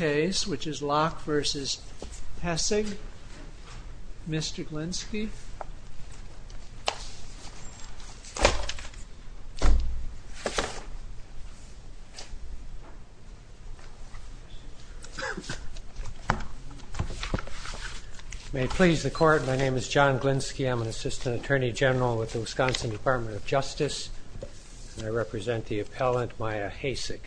May it please the Court, my name is John Glinski, I'm an Assistant Attorney General with the Wisconsin Department of Justice and I represent the appellant Mya Haessig.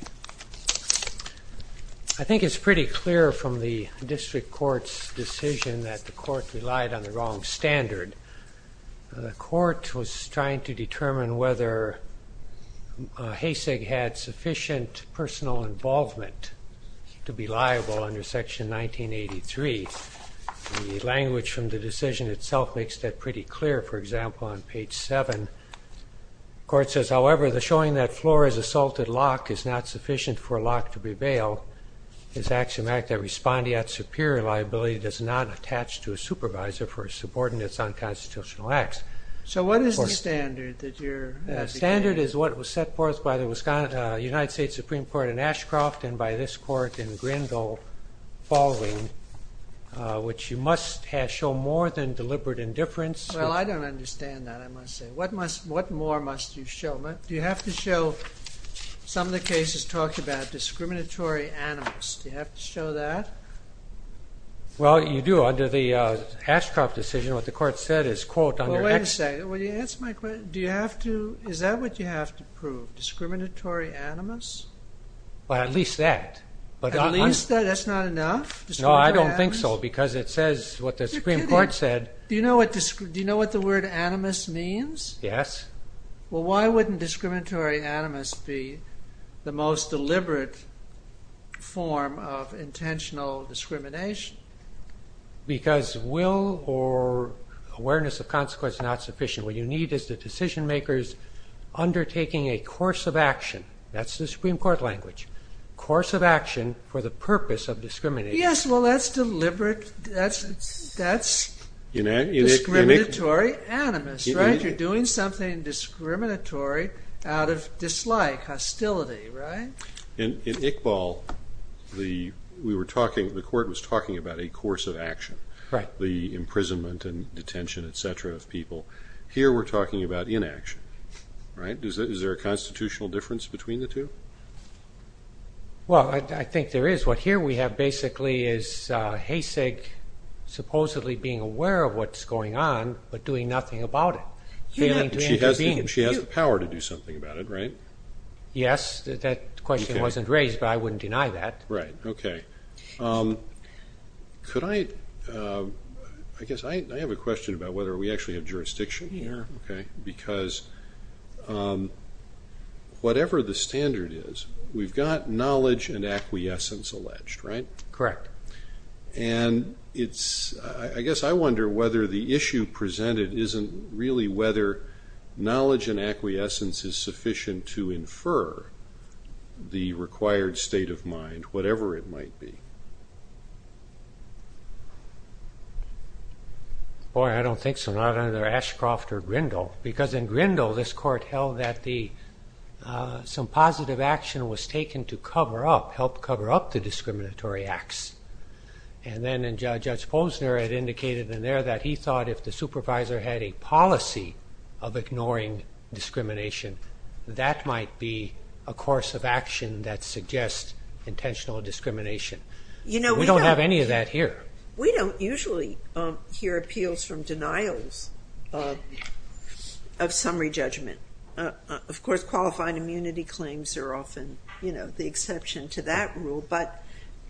I think it's pretty clear from the district court's decision that the court relied on the wrong standard. The court was trying to determine whether Haessig had sufficient personal involvement to be liable under section 1983. The language from the decision itself makes that pretty clear for example on page 7. The court says however the showing that Flores assaulted Locke is not sufficient for Locke to be bailed is axiomatic that respondee at superior liability does not attach to a supervisor for a subordinates on constitutional acts. So what is the standard? The standard is what was set forth by the Wisconsin United States Supreme Court in Ashcroft and by this court in Grindle following which you must have show more than deliberate indifference. Well I don't understand that I must say. What more must you show? Do you have to show some of the cases talked about discriminatory animus? Do you have to show that? Well you do under the Ashcroft decision what the court said is quote under... Wait a second, will you answer my question? Do you have to, is that what you have to prove? Discriminatory animus? Well at least that. At least that? That's not enough? No I don't think so because it says what the Supreme Court said. Do you know what the word animus means? Yes. Well why wouldn't discriminatory animus be the most deliberate form of intentional discrimination? Because will or awareness of consequence not sufficient. What you need is the decision-makers undertaking a course of action. That's the Supreme Court language. Course of action for the deliberate, that's discriminatory animus, right? You're doing something discriminatory out of dislike, hostility, right? In Iqbal, we were talking, the court was talking about a course of action. Right. The imprisonment and detention etc. of people. Here we're talking about inaction, right? Is there a constitutional difference between the two? Well I think there is. What here we have basically is Hayseg supposedly being aware of what's going on but doing nothing about it. She has the power to do something about it, right? Yes, that question wasn't raised but I wouldn't deny that. Right, okay. Could I, I guess I have a question about whether we actually have jurisdiction here, okay, because whatever the standard is, we've got knowledge and acquiescence alleged, right? Correct. And it's, I guess I wonder whether the issue presented isn't really whether knowledge and acquiescence is sufficient to infer the required state of mind, whatever it might be. Boy, I don't think so, not under Ashcroft or Grindle, because in Grindle this court held that the, some positive action was taken to cover up, help cover up the discriminatory acts. And then in Judge Posner it indicated in there that he thought if the supervisor had a policy of ignoring discrimination, that might be a course of action that suggests intentional discrimination. You know, we don't have any of that here. We don't usually hear appeals from denials of summary judgment. Of course qualified immunity claims are often, you know, the exception to that rule. But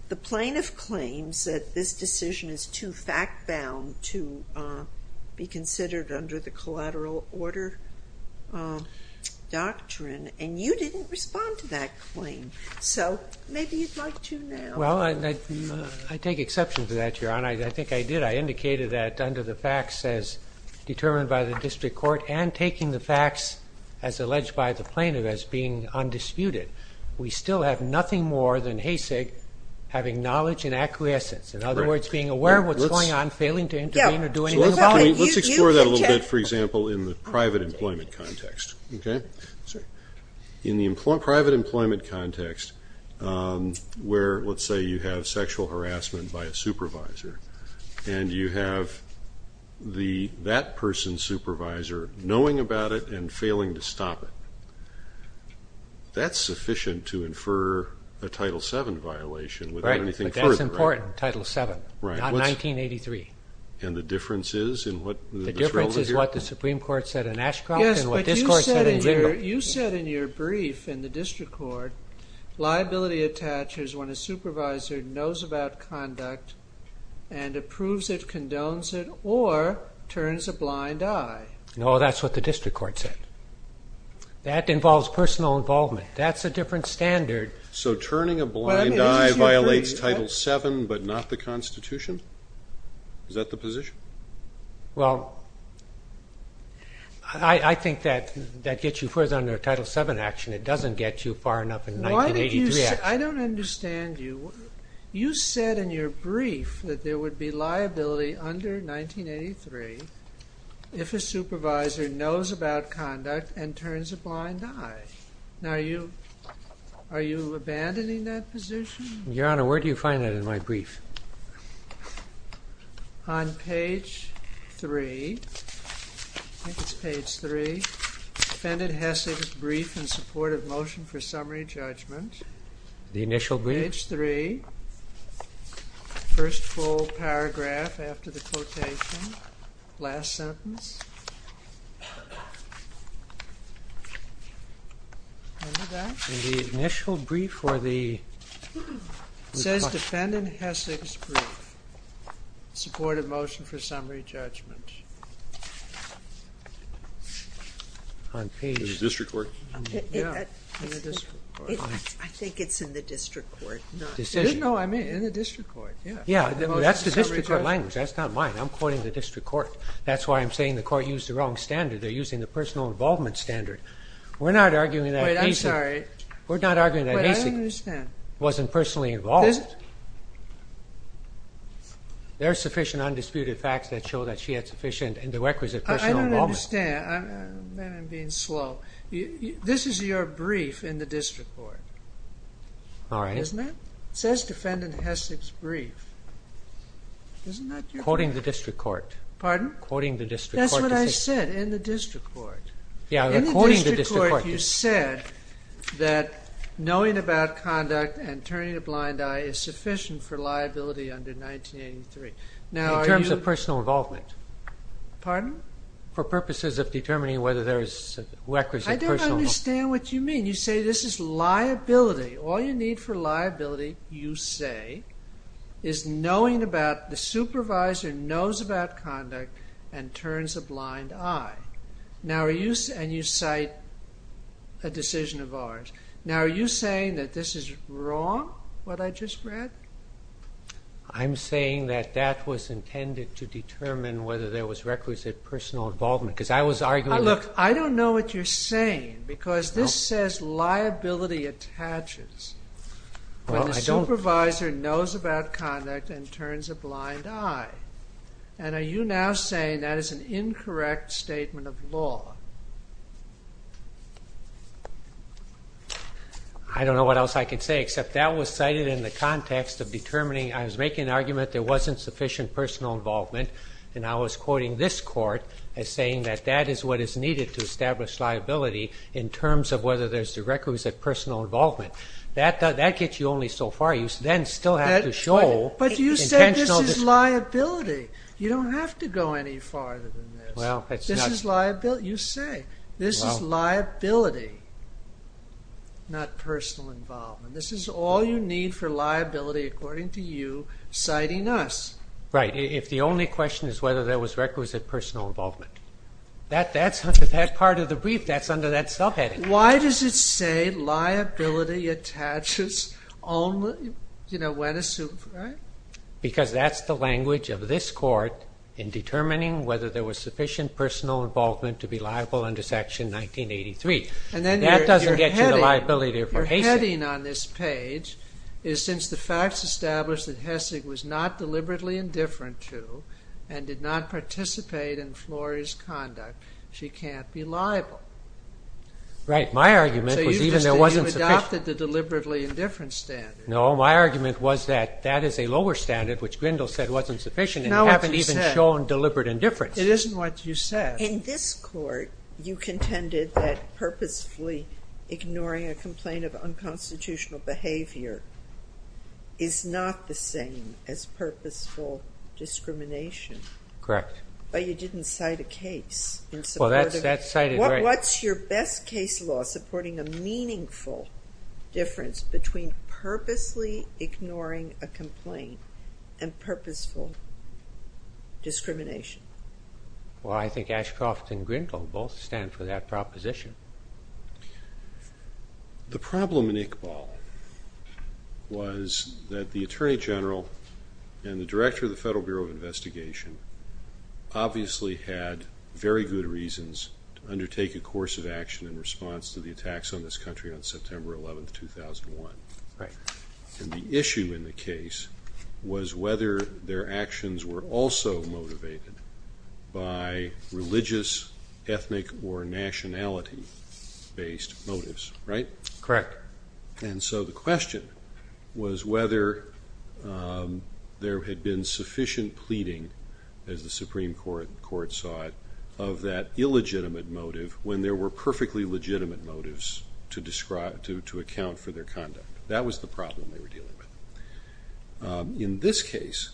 the plaintiff claims that this decision is too fact-bound to be considered under the collateral order doctrine, and you didn't respond to that claim. So maybe you'd like to now. Well, I take exception to that, Your Honor. I think I did. I indicated that under the facts as determined by the district court and taking the facts as alleged by the plaintiff as being undisputed, we still have nothing more than HASIG having knowledge and acquiescence. In other words, being aware of what's going on, failing to intervene or do anything about it. Let's explore that a little bit, for example, in the private employment context, okay? In the private employment context where, let's say you have sexual harassment by a supervisor, and you have that person's stop it. That's sufficient to infer a Title VII violation without anything further. Right, but that's important, Title VII, not 1983. And the difference is in what? The difference is what the Supreme Court said in Ashcroft and what this court said in Zimbabwe. Yes, but you said in your brief in the district court, liability attaches when a supervisor knows about conduct and approves it, condones it, or turns a blind eye. No, that's what the district court said. That involves personal involvement. That's a different standard. So turning a blind eye violates Title VII but not the Constitution? Is that the position? Well, I think that that gets you further under Title VII action. It doesn't get you far enough in 1983 action. I don't understand you. You said in your brief that there would be liability under 1983 if a supervisor knows about conduct and turns a blind eye. Now, are you abandoning that position? Your Honor, where do you find that in my brief? On page 3. I think it's page 3. Defendant Hessig's brief in support of motion for summary judgment. The initial brief? Page 3. First full paragraph after the quotation. Last sentence. Remember that? In the initial brief or the... It says Defendant Hessig's brief in support of motion for summary judgment. On page... In the district court? Yeah, in the district court. I think it's in the district court. Decision. No, I mean in the district court. Yeah, that's the district court language. That's not mine. I'm quoting the district court. That's why I'm saying the court used the wrong standard. They're using the personal involvement. We're not arguing that Hessig... Wait, I'm sorry. We're not arguing that Hessig... Wait, I don't understand. ...wasn't personally involved. There are sufficient undisputed facts that show that she had sufficient and the requisite personal involvement. I don't understand. I'm being slow. This is your brief in the district court. All right. Isn't it? It says Defendant Hessig's brief. Isn't that your... Quoting the district court. Pardon? Quoting the district court decision. That's what I said, in the district court. Yeah. In the district court you said that knowing about conduct and turning a blind eye is sufficient for liability under 1983. Now are you... In terms of personal involvement. Pardon? For purposes of determining whether there is requisite personal involvement. You cite a decision of ours. Now are you saying that this is wrong, what I just read? I'm saying that that was intended to determine whether there was requisite personal involvement because I was arguing... Look, I don't know what you're saying because this says liability attaches. Well, I don't... When the supervisor knows about conduct and turns a blind eye. And are you now saying that is an incorrect statement of law? I don't know what else I can say except that was cited in the context of determining... I was making an argument there wasn't sufficient personal involvement and I was quoting this court as saying that that is what is needed to establish liability in terms of whether there's requisite personal involvement. That gets you only so far. You then still have to show intentional... But you said this is liability. You don't have to go any farther than this. This is liability. You say this is liability, not personal involvement. This is all you need for liability according to you citing us. Right. If the only question is whether there was requisite personal involvement. That's under that part of the brief. That's under that self-heading. Why does it say liability attaches only when a supervisor... Because that's the language of this court in determining whether there was sufficient personal involvement to be liable under section 1983. That doesn't get you the liability there for Hessig. In this court you contended that purposefully ignoring a complaint of unconstitutional behavior is not the same as purposeful discrimination. Correct. But you didn't cite a case. What's your best case law supporting a meaningful difference between purposely ignoring a complaint and purposeful discrimination? Well, I think Ashcroft and Grindle both stand for that proposition. The problem in Iqbal was that the Attorney General and the Director of the Federal Bureau of Investigation obviously had very good reasons to undertake a course of action in response to the attacks on this country on September 11, 2001. And the issue in the case was whether their actions were also motivated by religious, ethnic, or nationality-based motives. Right? Correct. And so the question was whether there had been sufficient pleading, as the Supreme Court saw it, of that illegitimate motive when there were perfectly legitimate motives to account for their conduct. That was the problem they were dealing with. In this case,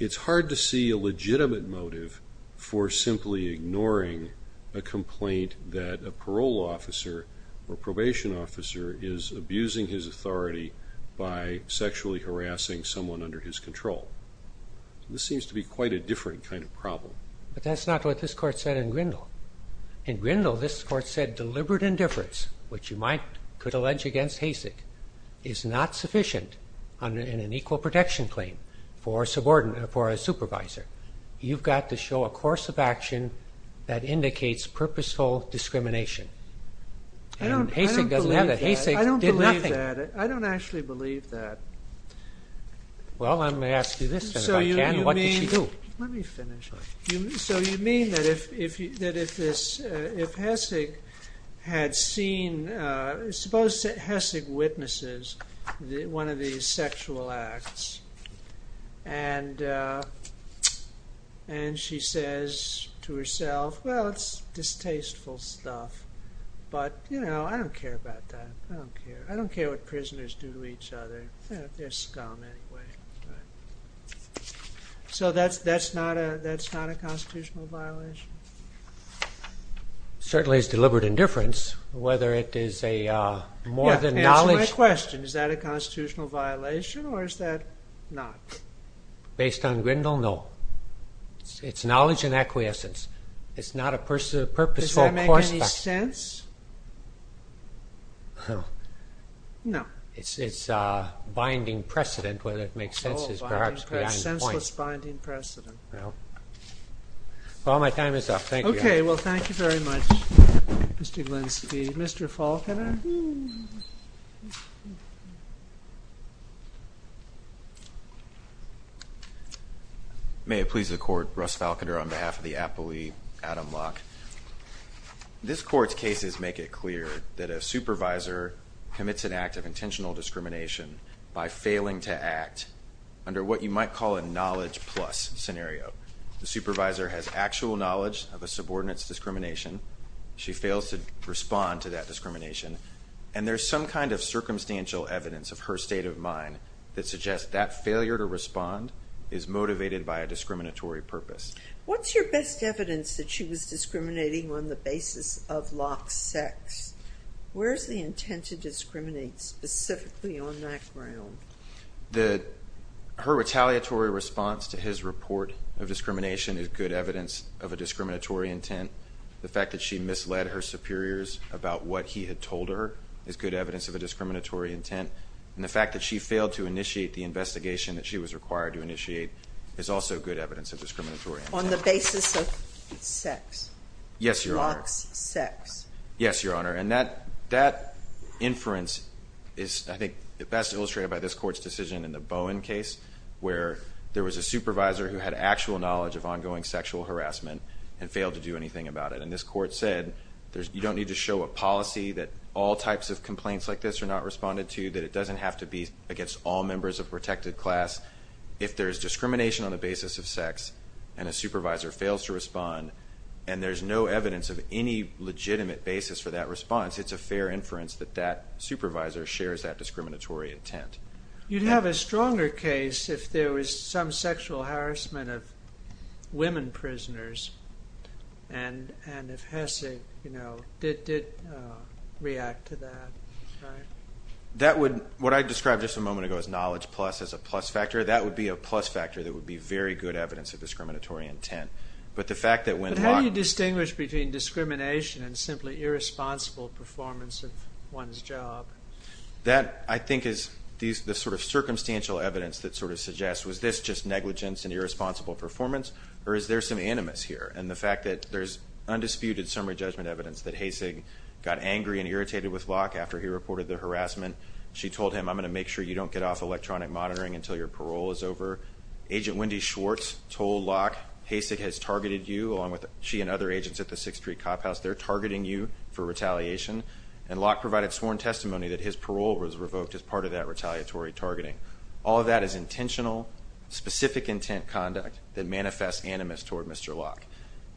it's hard to see a legitimate motive for simply ignoring a complaint that a parole officer or probation officer is abusing his authority by sexually harassing someone under his control. This seems to be quite a different kind of problem. But that's not what this Court said in Grindle. In Grindle, this Court said deliberate indifference, which you could allege against Hasek, is not sufficient in an equal protection claim for a supervisor. You've got to show a course of action that indicates purposeful discrimination. And Hasek doesn't have that. Hasek did nothing. I don't believe that. I don't actually believe that. Well, let me ask you this, then, if I can. What did she do? There's scum, anyway. So that's not a constitutional violation? Certainly it's deliberate indifference, whether it is more than knowledge. Answer my question. Is that a constitutional violation, or is that not? Based on Grindle, no. It's knowledge and acquiescence. It's not a purposeful course of action. Does that make any sense? No. It's binding precedent, whether it makes sense is perhaps beyond the point. Senseless, binding precedent. Well, my time is up. Thank you, guys. Okay, well, thank you very much, Mr. Glenski. Mr. Falkiner? May it please the Court. Russ Falkiner on behalf of the Apolyte, Adam Locke. This Court's cases make it clear that a supervisor commits an act of intentional discrimination by failing to act under what you might call a knowledge plus scenario. The supervisor has actual knowledge of a subordinate's discrimination. She fails to respond to that discrimination. And there's some kind of circumstantial evidence of her state of mind that suggests that failure to respond is motivated by a discriminatory purpose. What's your best evidence that she was discriminating on the basis of Locke's sex? Where's the intent to discriminate specifically on that ground? Her retaliatory response to his report of discrimination is good evidence of a discriminatory intent. The fact that she misled her superiors about what he had told her is good evidence of a discriminatory intent. And the fact that she failed to initiate the investigation that she was required to initiate is also good evidence of discriminatory intent. On the basis of sex? Yes, Your Honor. Locke's sex? Yes, Your Honor. And that inference is, I think, best illustrated by this Court's decision in the Bowen case where there was a supervisor who had actual knowledge of ongoing sexual harassment and failed to do anything about it. And this Court said you don't need to show a policy that all types of complaints like this are not responded to, that it doesn't have to be against all members of a protected class if there's discrimination on the basis of sex and a supervisor fails to respond and there's no evidence of any legitimate basis for that response. It's a fair inference that that supervisor shares that discriminatory intent. You'd have a stronger case if there was some sexual harassment of women prisoners and if Hessig, you know, did react to that, right? That would, what I described just a moment ago as knowledge plus as a plus factor, that would be a plus factor that would be very good evidence of discriminatory intent. But the fact that when Locke... But how do you distinguish between discrimination and simply irresponsible performance of one's job? That, I think, is the sort of circumstantial evidence that sort of suggests was this just negligence and irresponsible performance or is there some animus here? And the fact that there's undisputed summary judgment evidence that Hessig got angry and irritated with Locke after he reported the harassment. She told him, I'm going to make sure you don't get off electronic monitoring until your parole is over. Agent Wendy Schwartz told Locke, Hessig has targeted you along with she and other agents at the 6th Street Cop House. They're targeting you for retaliation. And Locke provided sworn testimony that his parole was revoked as part of that retaliatory targeting. All of that is intentional, specific intent conduct that manifests animus toward Mr. Locke.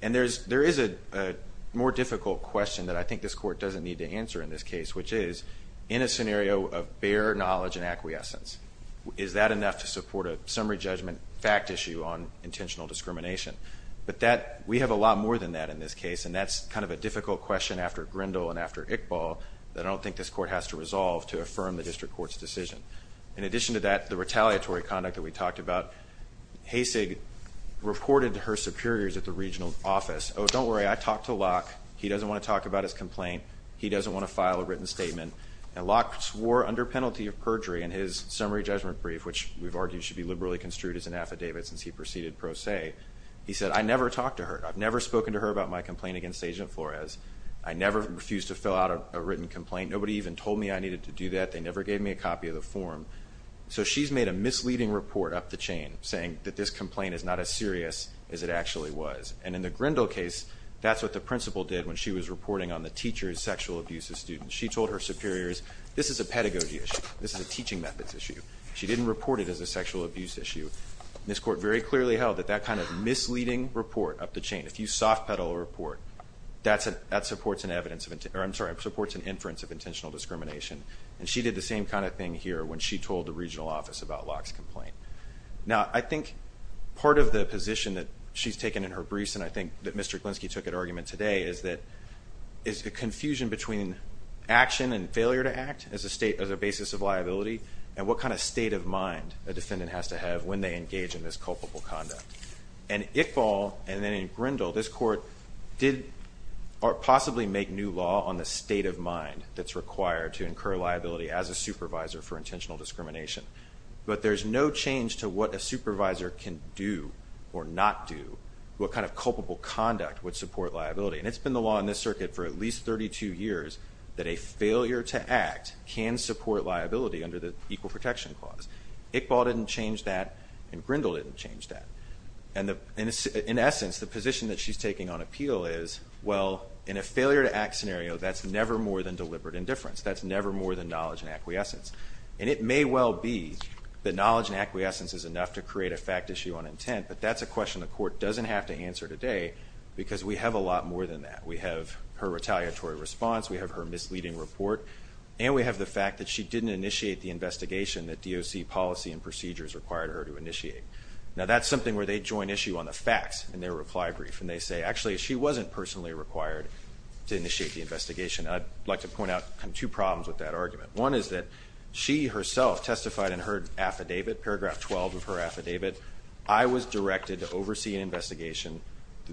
And there is a more difficult question that I think this court doesn't need to answer in this case, which is in a scenario of bare knowledge and acquiescence, is that enough to support a summary judgment fact issue on intentional discrimination? But that, we have a lot more than that in this case and that's kind of a difficult question after Grindle and after Iqbal that I don't think this court has to resolve to affirm the district court's decision. In addition to that, the retaliatory conduct that we talked about, Hessig reported to her superiors at the regional office, oh, don't worry, I talked to Locke. He doesn't want to talk about his complaint. He doesn't want to file a written statement. And Locke swore under penalty of perjury in his summary judgment brief, which we've argued should be liberally construed as an affidavit since he proceeded pro se. He said, I never talked to her. I've never spoken to her about my complaint against Agent Flores. I never refused to fill out a written complaint. Nobody even told me I needed to do that. They never gave me a copy of the form. So she's made a misleading report up the chain saying that this complaint is not as serious as it actually was. And in the Grindle case, that's what the principal did when she was reporting on the teacher's sexual abuse of students. She told her superiors, this is a pedagogy issue. This is a teaching methods issue. She didn't report it as a sexual abuse issue. And this court very clearly held that that kind of misleading report up the chain, if you soft pedal a report, that supports an inference of intentional discrimination. And she did the same kind of thing here when she told the regional office about Locke's complaint. Now, I think part of the position that she's taken in her briefs and I think that Mr. Glinski took at argument today is that is the confusion between action and failure to act as a state, as a basis of liability and what kind of state of mind a defendant has to have when they engage in this culpable conduct. And Iqbal and then in Grindle, this court did or possibly make new law on the state of mind that's required to incur liability as a supervisor for intentional sexual abuse. Intentional discrimination. But there's no change to what a supervisor can do or not do, what kind of culpable conduct would support liability. And it's been the law in this circuit for at least 32 years that a failure to act can support liability under the Equal Protection Clause. Iqbal didn't change that and Grindle didn't change that. And in essence, the position that she's taking on appeal is, well, in a failure to act scenario, that's never more than deliberate indifference. That's never more than knowledge and acquiescence. It may well be that knowledge and acquiescence is enough to create a fact issue on intent, but that's a question the court doesn't have to answer today because we have a lot more than that. We have her retaliatory response, we have her misleading report, and we have the fact that she didn't initiate the investigation that DOC policy and procedures required her to initiate. Now that's something where they join issue on the facts in their reply brief and they say, actually she wasn't personally required to initiate the investigation. I'd like to point out two problems with that argument. One is that she herself testified in her affidavit, paragraph 12 of her affidavit, I was directed to oversee an investigation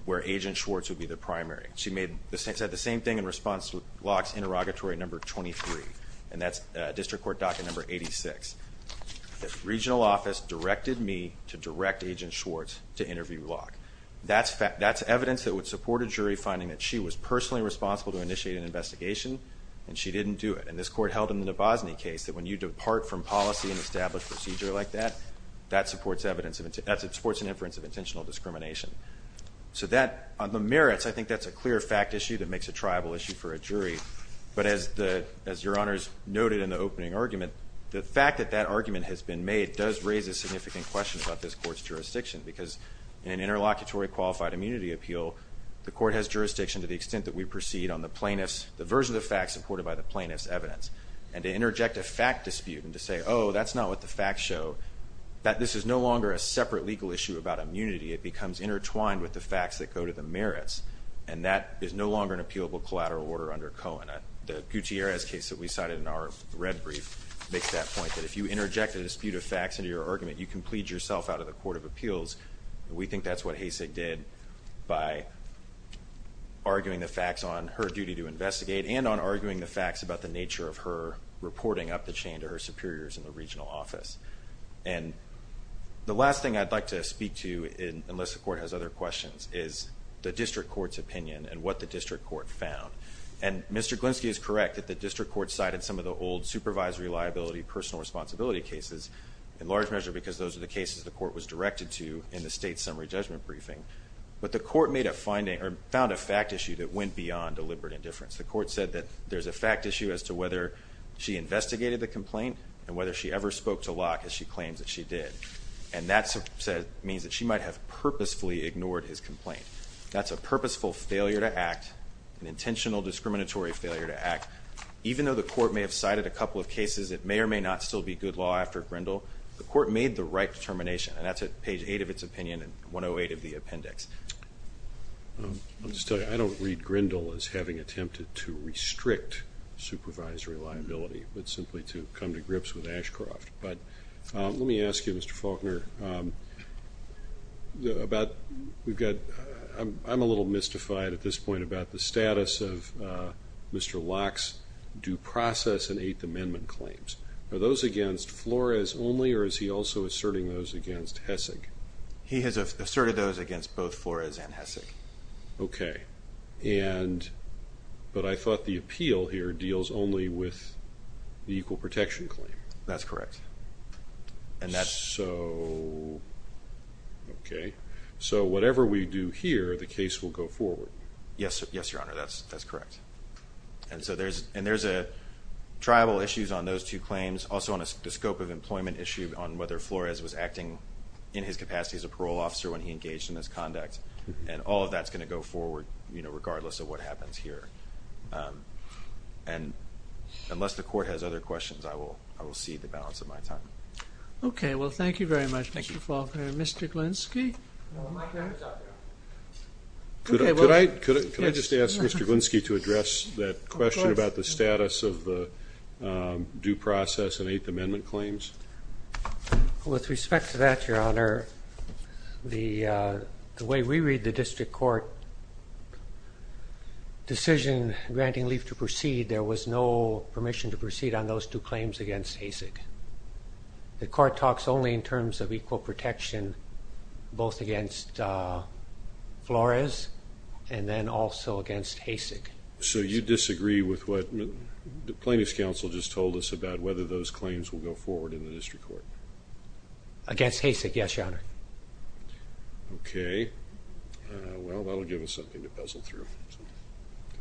where Agent Schwartz would be the primary. She said the same thing in response to Locke's interrogatory number 23 and that's district court docket number 86. The regional office directed me to direct Agent Schwartz to interview Locke. That's evidence that would support a jury finding that she was personally responsible to initiate an investigation and she didn't do it. And this court held in the Bosney case that when you depart from policy and establish procedure like that, that supports an inference of intentional discrimination. So that, on the merits, I think that's a clear fact issue that makes a tribal issue for a jury. But as your honors noted the fact that that argument has been made does raise a significant question about this court's jurisdiction and the plaintiff's, the version of the facts supported by the plaintiff's evidence. And to interject a fact dispute and to say, oh, that's not what the facts show, that this is no longer a separate legal issue about immunity, it becomes intertwined with the facts that go to the merits and that is no longer an appealable collateral order under Cohen. The Gutierrez case that we cited in our red brief makes that point that if you interject a dispute of facts into your argument, you can plead yourself out of the Court of Appeals. We think that's what Hasek did by arguing the facts on her duty to investigate and on arguing the facts about the nature of her reporting up the chain to her superiors in the regional office. And the last thing I'd like to speak to unless the court has other questions is the district court's opinion and what the district court found. And Mr. Glinsky is correct that the district court cited some of the old supervisory liability personal responsibility cases in large measure because those are the cases the court was directed to in the state summary judgment briefing. But the court made a finding or found a fact issue that went beyond deliberate indifference. The court said that there's a fact issue as to whether she investigated the complaint and whether she ever spoke to Locke as she claims that she did. And that means that she might have purposefully ignored his complaint. That's a purposeful failure to act, an intentional discriminatory failure to act. Even though the court may have cited a couple of cases that may or may not still be good law after Grindle, the court made the right determination and that's at page 8 of its opinion and 108 of the appendix. Let me just tell you, I don't read Grindle as having attempted to restrict supervisory liability but simply to come to grips with Ashcroft. But let me ask you Mr. Faulkner about, we've got, I'm a little mystified at this point about the status of Mr. Locke's due process and 8th Amendment claims. Are those against Flores only or is he also asserting those against Hessig? He has asserted those against both Flores and Hessig. Okay. And, but I thought the appeal here deals only with the equal protection claim. That's correct. And that's... So... Okay. So whatever we do here, the case will go forward? Yes, Your Honor. That's correct. And so there's a tribal issues on those two claims. Also on the scope of employment issue on whether Flores was acting in his capacity as a parole officer when he engaged in this conduct and all of that's going to go forward regardless of what happens here. And unless the court has other questions, I will see the balance of my time. Okay. Well, thank you very much Mr. Faulkner. Mr. Glinski? No, my time is up now. Okay, well... Could I just ask Mr. Glinski to address that question about the status of the due process and Eighth Amendment claims? With respect to that, Your Honor, the way we read the district court decision granting leave to proceed, there was no permission to proceed on those two claims against Hessig. The court talks only in terms of equal protection both against Flores and then also against Hessig. So you disagree with what the plaintiff's counsel just told us about whether those claims will go forward in the district court? Against Hessig, yes, Your Honor. Okay. Well, that will give us something to puzzle through.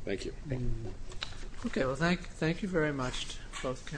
Thank you. Okay, well, thank you very much both counsels.